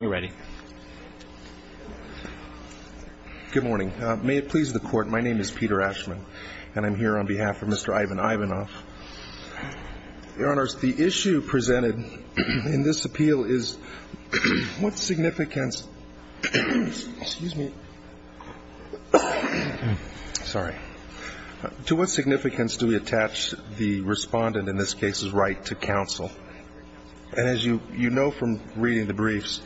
Good morning. May it please the Court, my name is Peter Ashman, and I'm here on behalf of Mr. Ivan Ivanov. Your Honors, the issue presented in this appeal is what significance – excuse me, sorry – to what significance do we attach the respondent, in this case, is right to counsel? And as you know from reading the briefs,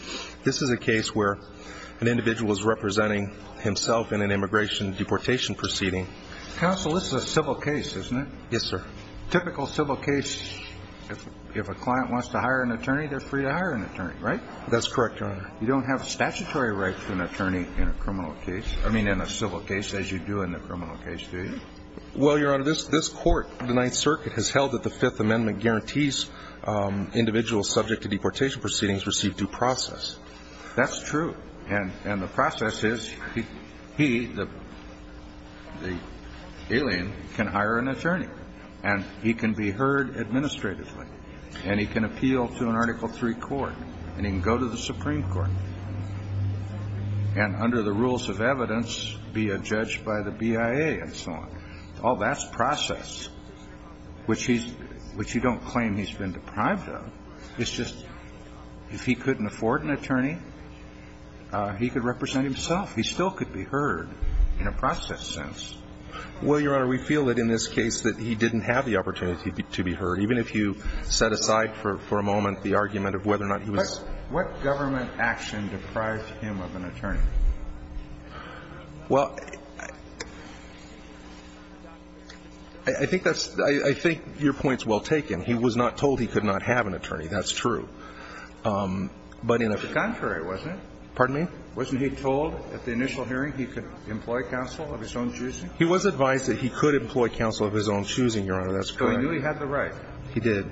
this is a case where an individual is representing himself in an immigration deportation proceeding. Counsel, this is a civil case, isn't it? Yes, sir. Typical civil case, if a client wants to hire an attorney, they're free to hire an attorney, right? That's correct, Your Honor. You don't have statutory rights to an attorney in a criminal case – I mean, in a civil case, as you do in a criminal case, do you? Well, Your Honor, this court, the Ninth Circuit, has held that the Fifth Amendment guarantees individuals subject to deportation proceedings receive due process. That's true. And the process is he, the alien, can hire an attorney, and he can be heard administratively, and he can appeal to an Article III court, and he can go to the Supreme Court, and under the rules of evidence, be a judge by the BIA, and so on. Oh, that's process, which he's – which you don't claim he's been deprived of. It's just, if he couldn't afford an attorney, he could represent himself. He still could be heard in a process sense. Well, Your Honor, we feel that in this case that he didn't have the opportunity to be heard, even if you set aside for a moment the argument of whether or not he was – What government action deprived him of an attorney? I think that's – I think your point's well taken. He was not told he could not have an attorney. That's true. But in a – But it was the contrary, wasn't it? Pardon me? Wasn't he told at the initial hearing he could employ counsel of his own choosing? He was advised that he could employ counsel of his own choosing, Your Honor. That's correct. So he knew he had the right? He did.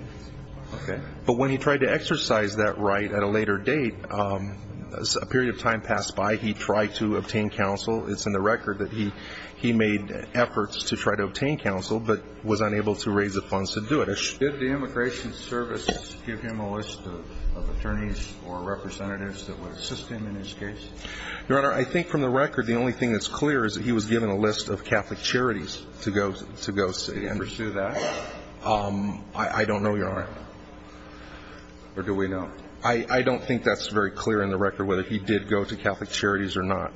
Okay. But when he tried to exercise that right at a later date, a period of time passed by, he tried to obtain counsel. It's in the record that he made efforts to try to obtain counsel, but was unable to raise the funds to do it. Did the Immigration Service give him a list of attorneys or representatives that would assist him in his case? Your Honor, I think from the record, the only thing that's clear is that he was given a list of Catholic charities to go see. Did he pursue that? I don't know, Your Honor. Or do we know? I don't think that's very clear in the record whether he did go to Catholic charities or not.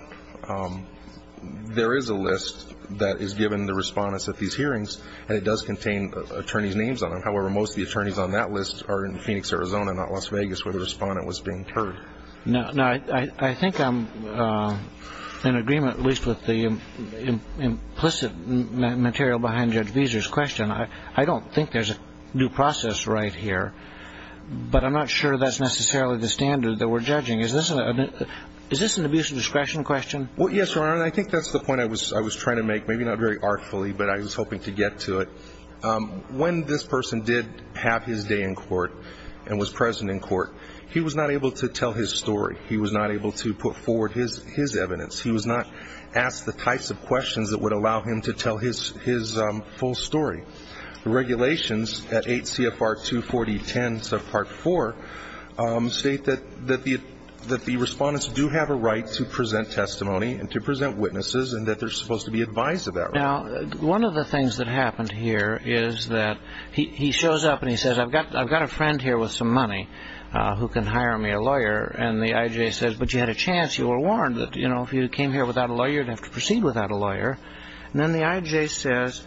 There is a list that is given the respondents at these hearings, and it does contain attorneys' names on them. However, most of the attorneys on that list are in Phoenix, Arizona, not Las Vegas, where the respondent was being heard. Now, I think I'm in agreement, at least with the implicit material behind Judge Visor's question. I don't think there's a due process right here, but I'm not sure that's necessarily the standard that we're judging. Is this an abuse of discretion question? Yes, Your Honor, and I think that's the point I was trying to make, maybe not very artfully, but I was hoping to get to it. When this person did have his day in court and was present in court, he was not able to tell his story. He was not able to put forward his evidence. He was not asked the types of questions that would allow him to tell his full story. The IJ states that the respondents do have a right to present testimony and to present witnesses and that they're supposed to be advised of that right. One of the things that happened here is that he shows up and he says, I've got a friend here with some money who can hire me a lawyer. And the IJ says, but you had a chance. You were warned that if you came here without a lawyer, you'd have to proceed without a lawyer. And then the IJ says,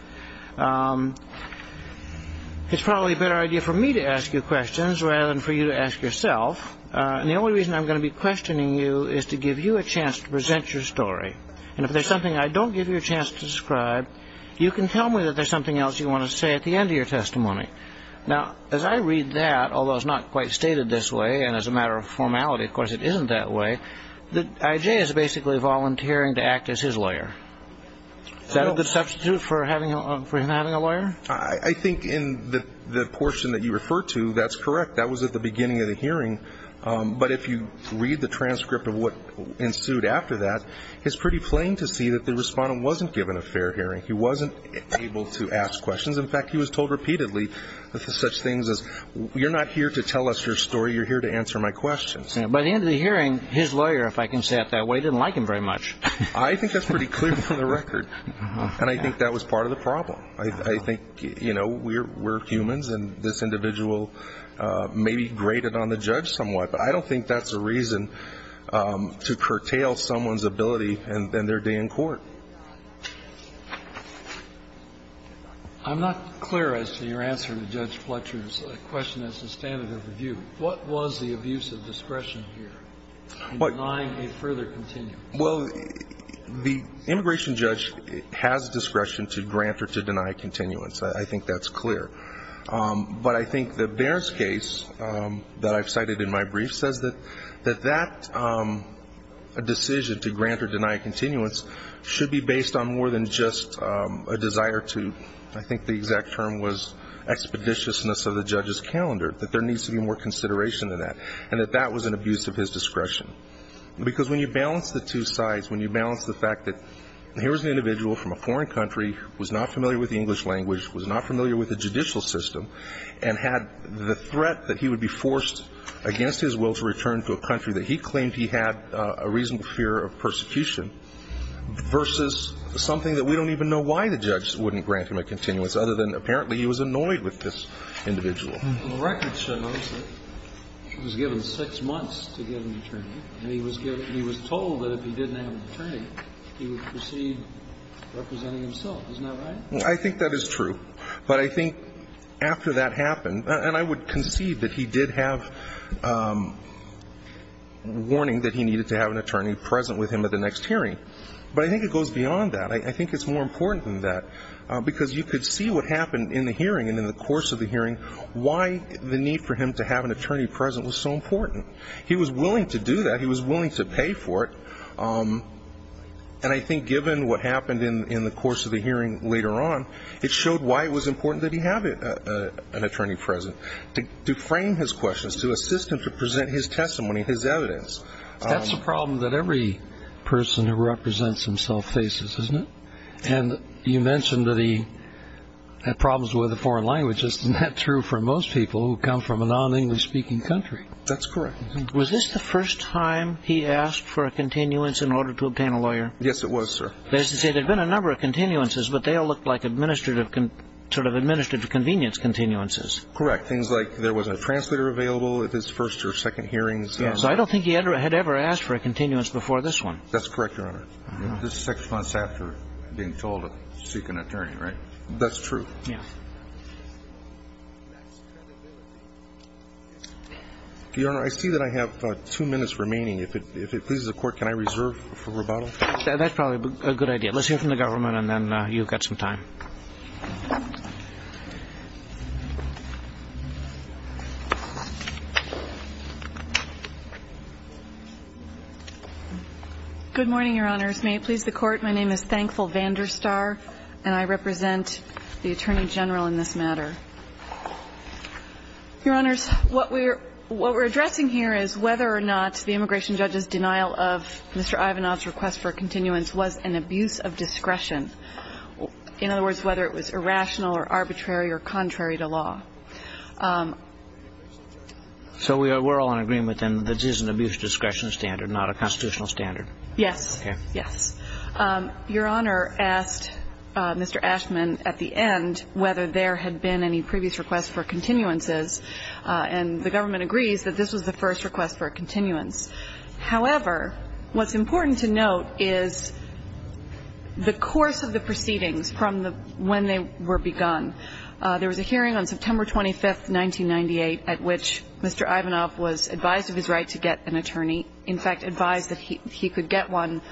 it's probably a better idea for me to ask you questions rather than for you to ask yourself. And the only reason I'm going to be questioning you is to give you a chance to present your story. And if there's something I don't give you a chance to describe, you can tell me that there's something else you want to say at the end of your testimony. Now, as I read that, although it's not quite stated this way and as a matter of formality, of course, it isn't that way, the IJ is basically volunteering to act as his lawyer. Is that a good substitute for him having a lawyer? I think in the portion that you refer to, that's correct. That was at the beginning of the hearing. But if you read the transcript of what ensued after that, it's pretty plain to see that the respondent wasn't given a fair hearing. He wasn't able to ask questions. In fact, he was told repeatedly such things as, you're not here to tell us your story. You're here to answer my questions. By the end of the hearing, his lawyer, if I can say it that way, didn't like him very much. I think that's pretty clear from the record. And I think that was part of the problem. I think, you know, we're humans, and this individual may be graded on the judge somewhat. But I don't think that's a reason to curtail someone's ability in their day in court. I'm not clear as to your answer to Judge Fletcher's question as to standard of review. What was the abuse of discretion here in denying a further continuance? Well, the immigration judge has discretion to grant or to deny a continuance. I think that's clear. But I think that Bair's case that I've cited in my brief says that that decision to grant or deny a continuance should be based on more than just a desire to, I think the exact term was expeditiousness of the judge's calendar, that there needs to be more consideration than that, and that that was an abuse of his discretion. Because when you balance the two sides, when you balance the fact that here was an individual from a foreign country, was not familiar with the English language, was not familiar with the judicial system, and had the threat that he would be forced against his will to return to a country that he claimed he had a reasonable fear of persecution versus something that we don't even know why the judge wouldn't grant him a continuance other than apparently he was annoyed with this individual. And the record shows that he was given six months to get an attorney, and he was told that if he didn't have an attorney, he would proceed representing himself. Isn't that right? I think that is true. But I think after that happened, and I would concede that he did have warning that he needed to have an attorney present with him at the next hearing. But I think it goes beyond that. I think it's more important than that, because you could see what happened in the hearing and in the course of the hearing, why the need for him to have an attorney present was so important. He was willing to do that. He was willing to pay for it. And I think given what happened in the course of the hearing later on, it showed why it was important that he have an attorney present, to frame his questions, to assist him to present his testimony, his evidence. That's a problem that every person who represents himself faces, isn't it? And you mentioned that he had problems with the foreign languages. Isn't that true for most people who come from a non-English speaking country? That's correct. Was this the first time he asked for a continuance in order to obtain a lawyer? Yes, it was, sir. That is to say, there have been a number of continuances, but they all looked like administrative convenience continuances. Correct. Things like there wasn't a translator available at his first or second hearings. So I don't think he had ever asked for a continuance before this one. That's correct, Your Honor. This is six months after being told to seek an attorney, right? That's true. Yes. Your Honor, I see that I have two minutes remaining. If it pleases the Court, can I reserve for rebuttal? That's probably a good idea. Let's hear from the government, and then you've got some time. Good morning, Your Honors. May it please the Court, my name is Thankful Vanderstar, and I represent the Attorney General in this matter. Your Honors, what we're addressing here is whether or not the immigration judge's denial of Mr. Ashman's request for a continuance was an abuse of discretion. In other words, whether it was irrational or arbitrary or contrary to law. So we're all in agreement, then, that this is an abuse of discretion standard, not a constitutional standard? Yes. Okay. Yes. Your Honor asked Mr. Ashman at the end whether there had been any previous requests for continuances, and the government agrees that this was the first request for a continuance. However, what's important to note is the course of the proceedings from when they were begun. There was a hearing on September 25, 1998, at which Mr. Ivanov was advised of his right to get an attorney. In fact, advised that he could get one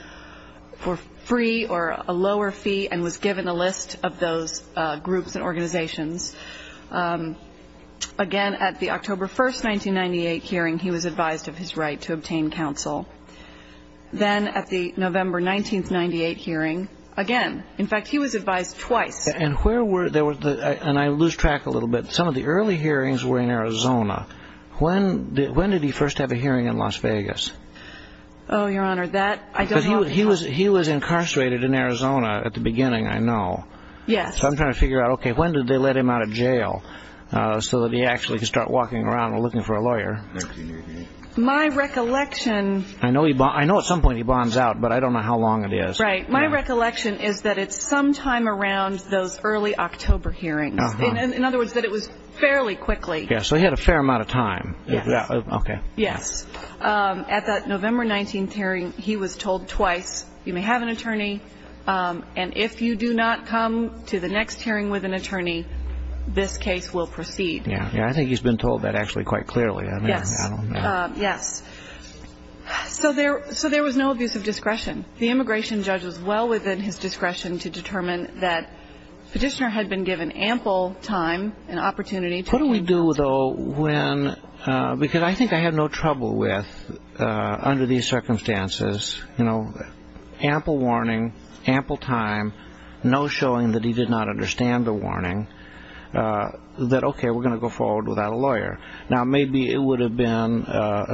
for free or a lower fee and was given a list of those groups and organizations. Again, at the October 1, 1998 hearing, he was advised of his right to obtain counsel. Then at the November 19, 1998 hearing, again, in fact, he was advised twice. And where were there were, and I lose track a little bit, some of the early hearings were in Arizona. When did he first have a hearing in Las Vegas? Oh, Your Honor, that I don't know. Because he was incarcerated in Arizona at the beginning, I know. Yes. So I'm trying to figure out, okay, when did they let him out of jail so that he actually could start walking around and looking for a lawyer? My recollection... I know at some point he bonds out, but I don't know how long it is. Right. My recollection is that it's sometime around those early October hearings. In other words, that it was fairly quickly. Yes, so he had a fair amount of time. Yes. Okay. Yes. At that November 19 hearing, he was told twice, you may have an attorney, and if you do not come to the next hearing with an attorney, this case will proceed. Yes, I think he's been told that actually quite clearly. Yes. I don't know. Yes. So there was no abuse of discretion. The immigration judge was well within his discretion to determine that Petitioner had been given ample time and opportunity to... What do we do, though, when... Because I think I have no trouble with, under these circumstances, ample warning, ample time, no showing that he did not understand the warning, that, okay, we're going to go forward without a lawyer. Now, maybe it would have been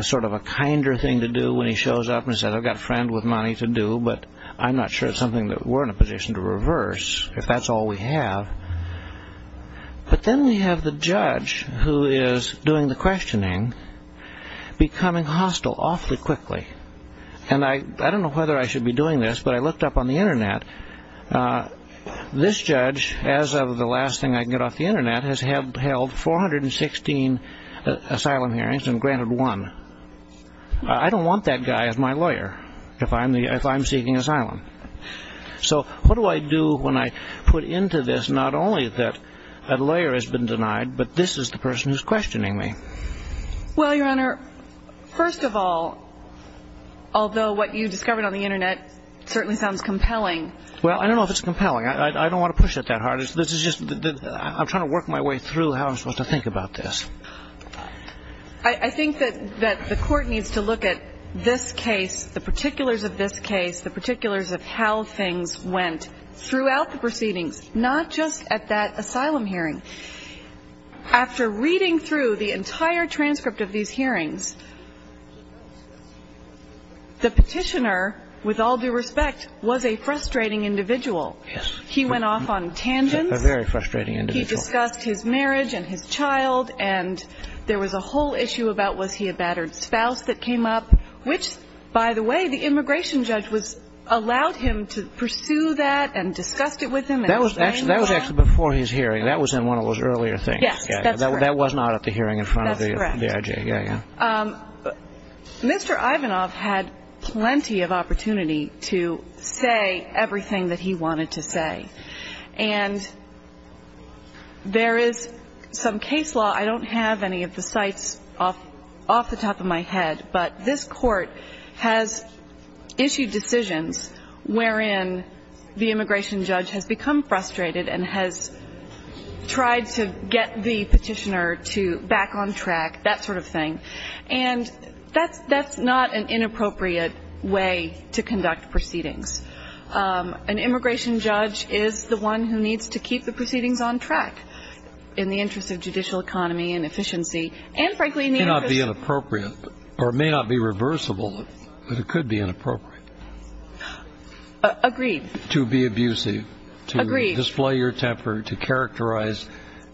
sort of a kinder thing to do when he shows up and says, I've got a friend with money to do, but I'm not sure it's something that we're in a position to reverse, if that's all we have. But then we have the judge who is doing the questioning becoming hostile awfully quickly. And I don't know whether I should be doing this, but I looked up on the Internet. This judge, as of the last thing I could get off the Internet, has held 416 asylum hearings and granted one. I don't want that guy as my lawyer if I'm seeking asylum. So what do I do when I put into this not only that a lawyer has been denied, but this is the person who's questioning me? Well, Your Honor, first of all, although what you discovered on the Internet certainly sounds compelling... Well, I don't know if it's compelling. I don't want to push it that hard. I'm trying to work my way through how I'm supposed to think about this. I think that the court needs to look at this case, the particulars of this case, the particulars of how things went throughout the proceedings, not just at that asylum hearing. After reading through the entire transcript of these hearings, the petitioner, with all due respect, was a frustrating individual. Yes. He went off on tangents. A very frustrating individual. He discussed his marriage and his child, and there was a whole issue about was he a battered spouse that came up, which, by the way, the immigration judge allowed him to pursue that and discussed it with him. That was actually before his hearing. That was in one of those earlier things. Yes, that's correct. That was not at the hearing in front of the IJ. That's correct. Yeah, yeah. Mr. Ivanov had plenty of opportunity to say everything that he wanted to say, and there is some case law. I don't have any of the sites off the top of my head, but this Court has issued decisions wherein the immigration judge has become frustrated and has tried to get the petitioner to back on track, that sort of thing. And that's not an inappropriate way to conduct proceedings. An immigration judge is the one who needs to keep the proceedings on track in the interest of judicial economy and efficiency and, frankly, in the interest of the court. Or it may not be reversible, but it could be inappropriate. Agreed. To be abusive. Agreed. To display your temper, to characterize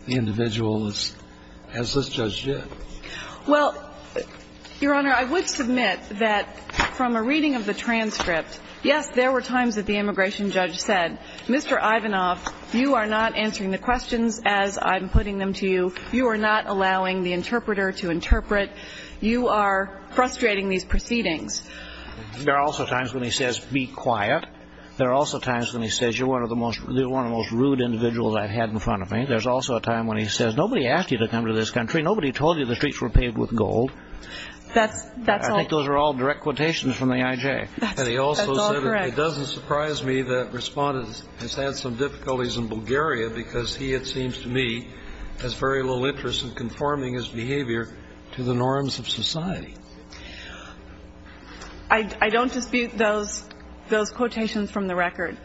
the individual as this judge did. Well, Your Honor, I would submit that from a reading of the transcript, yes, there were times that the immigration judge said, Mr. Ivanov, you are not answering the questions as I'm putting them to you. You are not allowing the interpreter to interpret. You are frustrating these proceedings. There are also times when he says, be quiet. There are also times when he says, you're one of the most rude individuals I've had in front of me. There's also a time when he says, nobody asked you to come to this country. Nobody told you the streets were paved with gold. That's all. I think those are all direct quotations from the IJ. That's all correct. And he also said, it doesn't surprise me that Respondent has had some difficulties in Bulgaria because he, it seems to me, has very little interest in conforming his behavior to the norms of society. I don't dispute those quotations from the record.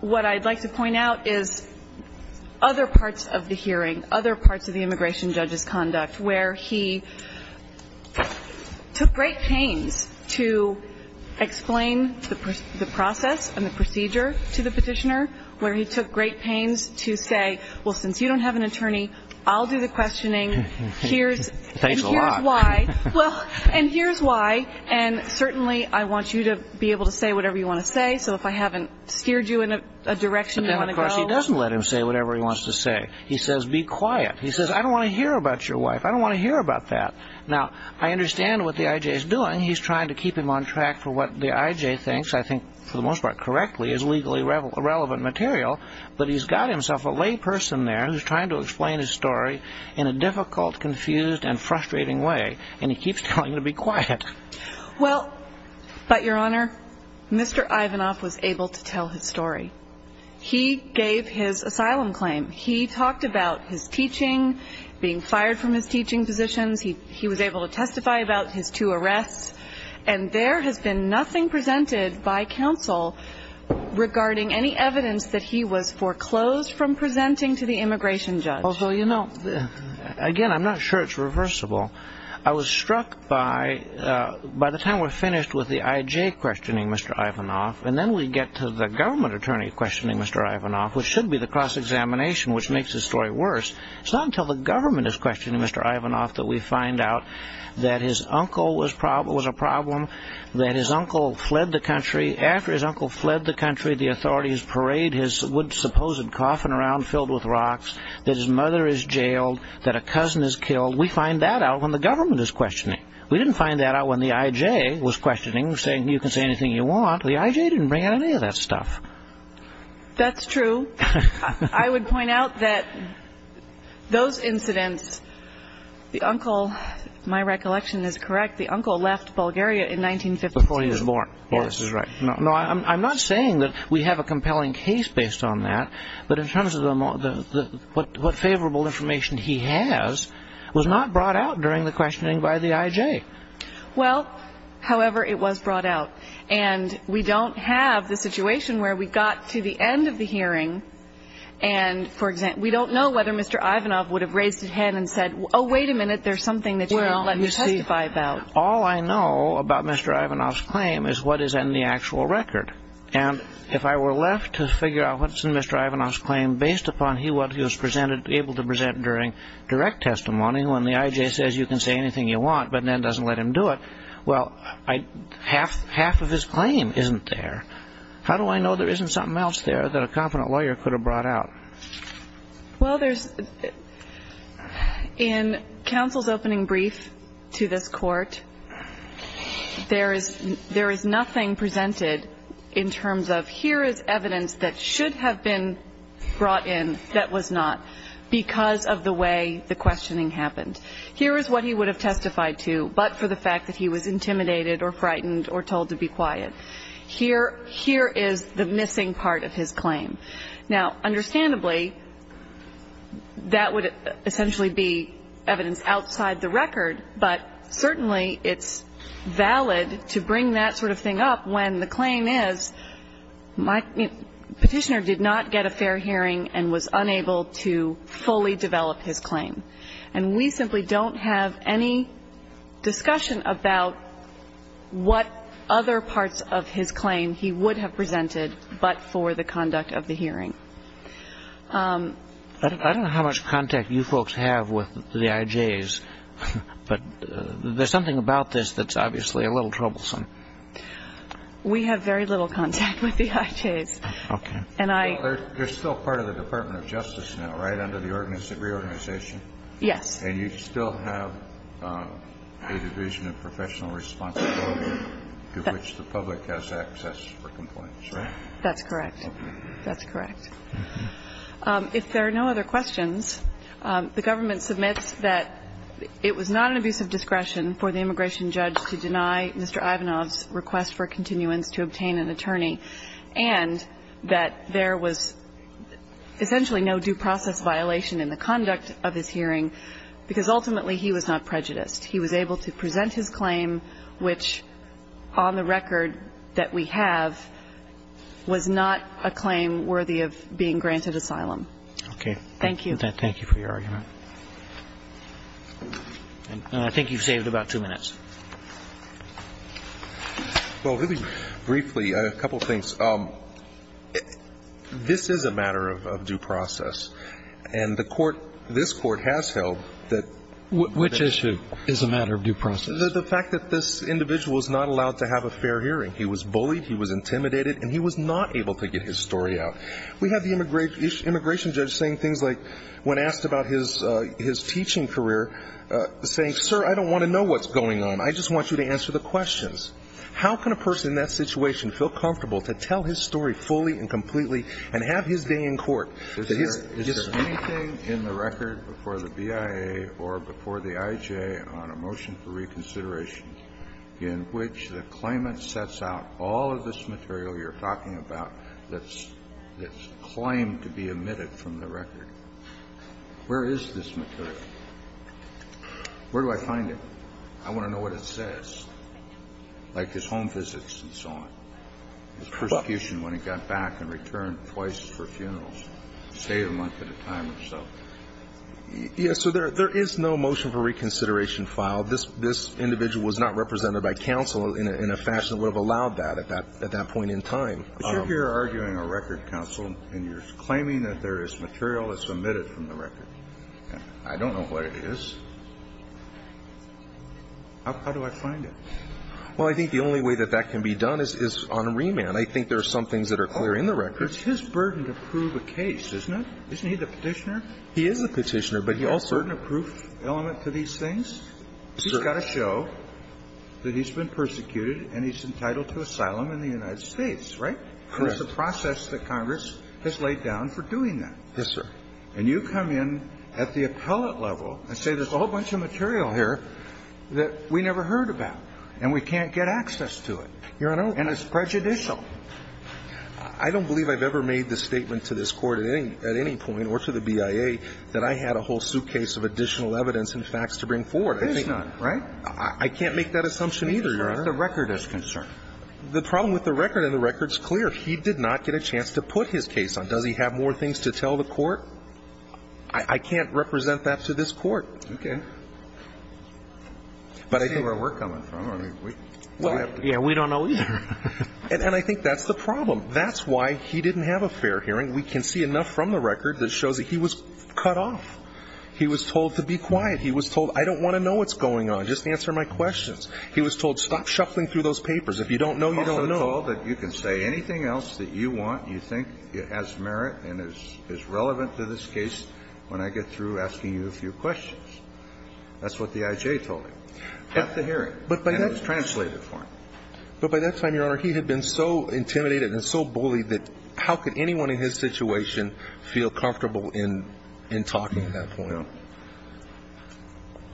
What I'd like to point out is other parts of the hearing, other parts of the immigration judge's conduct where he took great pains to explain the process and the procedure to the petitioner, where he took great pains to say, well, since you don't have an attorney, I'll do the questioning. Here's why. And here's why. And certainly I want you to be able to say whatever you want to say. So if I haven't steered you in a direction you want to go. Of course, he doesn't let him say whatever he wants to say. He says, be quiet. He says, I don't want to hear about your wife. I don't want to hear about that. Now, I understand what the IJ is doing. He's trying to keep him on track for what the IJ thinks, I think, for the most part, correctly, is legally relevant material. But he's got himself a lay person there who's trying to explain his story in a difficult, confused, and frustrating way. And he keeps telling him to be quiet. Well, but, Your Honor, Mr. Ivanov was able to tell his story. He gave his asylum claim. He talked about his teaching, being fired from his teaching positions. He was able to testify about his two arrests. And there has been nothing presented by counsel regarding any evidence that he was foreclosed from presenting to the immigration judge. Although, you know, again, I'm not sure it's reversible. I was struck by the time we're finished with the IJ questioning Mr. Ivanov, and then we get to the government attorney questioning Mr. Ivanov, which should be the cross-examination, which makes the story worse. It's not until the government is questioning Mr. Ivanov that we find out that his uncle was a problem, that his uncle fled the country. After his uncle fled the country, the authorities parade his supposed coffin around filled with rocks, that his mother is jailed, that a cousin is killed. We find that out when the government is questioning. We didn't find that out when the IJ was questioning, saying you can say anything you want. The IJ didn't bring out any of that stuff. That's true. I would point out that those incidents, the uncle, my recollection is correct, the uncle left Bulgaria in 1915. Before he was born. Yes. No, I'm not saying that we have a compelling case based on that, but in terms of what favorable information he has was not brought out during the questioning by the IJ. Well, however, it was brought out. And we don't have the situation where we got to the end of the hearing and, for example, we don't know whether Mr. Ivanov would have raised his hand and said, oh, wait a minute, there's something that you didn't let me testify about. Well, all I know about Mr. Ivanov's claim is what is in the actual record. And if I were left to figure out what's in Mr. Ivanov's claim based upon what he was able to present during direct testimony, when the IJ says you can say anything you want but then doesn't let him do it, well, half of his claim isn't there. How do I know there isn't something else there that a confident lawyer could have brought out? Well, there's, in counsel's opening brief to this court, there is nothing presented in terms of here is evidence that should have been brought in that was not because of the way the questioning happened. Here is what he would have testified to but for the fact that he was intimidated or frightened or told to be quiet. Here is the missing part of his claim. Now, understandably, that would essentially be evidence outside the record, but certainly it's valid to bring that sort of thing up when the claim is my petitioner did not get a fair hearing and was unable to fully develop his claim. And we simply don't have any discussion about what other parts of his claim he would have presented but for the conduct of the hearing. I don't know how much contact you folks have with the IJs, but there's something about this that's obviously a little troublesome. We have very little contact with the IJs. Okay. Well, there's still part of the Department of Justice now, right, under the reorganization? Yes. And you still have a division of professional responsibility to which the public has access for complaints, right? That's correct. That's correct. If there are no other questions, the government submits that it was not an abuse of discretion for the immigration judge to deny Mr. Ivanov's request for continuance to obtain an attorney, and that there was essentially no due process violation in the conduct of his hearing, because ultimately he was not prejudiced. He was able to present his claim, which on the record that we have, was not a claim worthy of being granted asylum. Okay. Thank you. Thank you for your argument. And I think you've saved about two minutes. Well, really briefly, a couple of things. This is a matter of due process. And the Court ‑‑ this Court has held that ‑‑ Which issue is a matter of due process? The fact that this individual is not allowed to have a fair hearing. He was bullied. He was intimidated. And he was not able to get his story out. We have the immigration judge saying things like, when asked about his teaching career, saying, sir, I don't want to know what's going on. I just want you to answer the questions. How can a person in that situation feel comfortable to tell his story fully and completely and have his day in court? Is there anything in the record before the BIA or before the IJA on a motion for reconsideration in which the claimant sets out all of this material you're talking about that's claimed to be omitted from the record? Where is this material? Where do I find it? I want to know what it says. Like his home visits and so on. His persecution when he got back and returned twice for funerals. Stayed a month at a time or so. Yes. So there is no motion for reconsideration filed. This individual was not represented by counsel in a fashion that would have allowed that at that point in time. But you're here arguing a record, counsel, and you're claiming that there is material that's omitted from the record. I don't know what it is. How do I find it? Well, I think the only way that that can be done is on remand. I think there are some things that are clear in the record. It's his burden to prove a case, isn't it? Isn't he the Petitioner? He is the Petitioner, but he also ---- He has a burden of proof element to these things? He's got to show that he's been persecuted and he's entitled to asylum in the United States, right? That's the process that Congress has laid down for doing that. And you come in at the appellate level and say there's a whole bunch of material here that we never heard about and we can't get access to it. And it's prejudicial. I don't believe I've ever made the statement to this Court at any point or to the BIA that I had a whole suitcase of additional evidence and facts to bring forward. There's none, right? I can't make that assumption either, Your Honor. As far as the record is concerned. The problem with the record, and the record's clear, he did not get a chance to put his case on. Does he have more things to tell the Court? I can't represent that to this Court. Okay. But I think ---- That's where we're coming from. Yeah, we don't know either. And I think that's the problem. That's why he didn't have a fair hearing. We can see enough from the record that shows that he was cut off. He was told to be quiet. He was told I don't want to know what's going on. Just answer my questions. He was told stop shuffling through those papers. If you don't know, you don't know. He was told that you can say anything else that you want, you think has merit and is relevant to this case when I get through asking you a few questions. That's what the I.J. told him at the hearing. And it was translated for him. But by that time, Your Honor, he had been so intimidated and so bullied that how could anyone in his situation feel comfortable in talking at that point? No.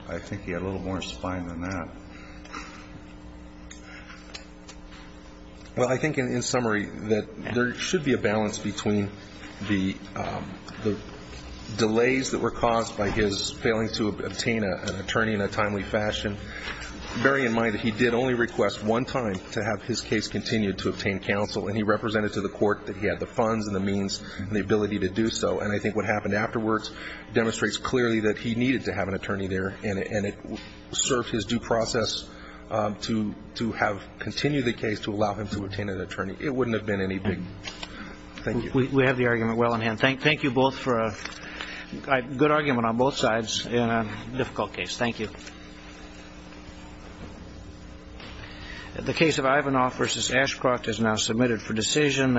I think he had a little more spine than that. Well, I think in summary that there should be a balance between the delays that were caused by his failing to obtain an attorney in a timely fashion, bearing in mind that he did only request one time to have his case continue to obtain counsel, and he represented to the court that he had the funds and the means and the ability to do so. And I think what happened afterwards demonstrates clearly that he needed to have continued the case to allow him to obtain an attorney. It wouldn't have been anything. Thank you. We have the argument well in hand. Thank you both for a good argument on both sides in a difficult case. Thank you. The case of Ivanoff v. Ashcroft is now submitted for decision.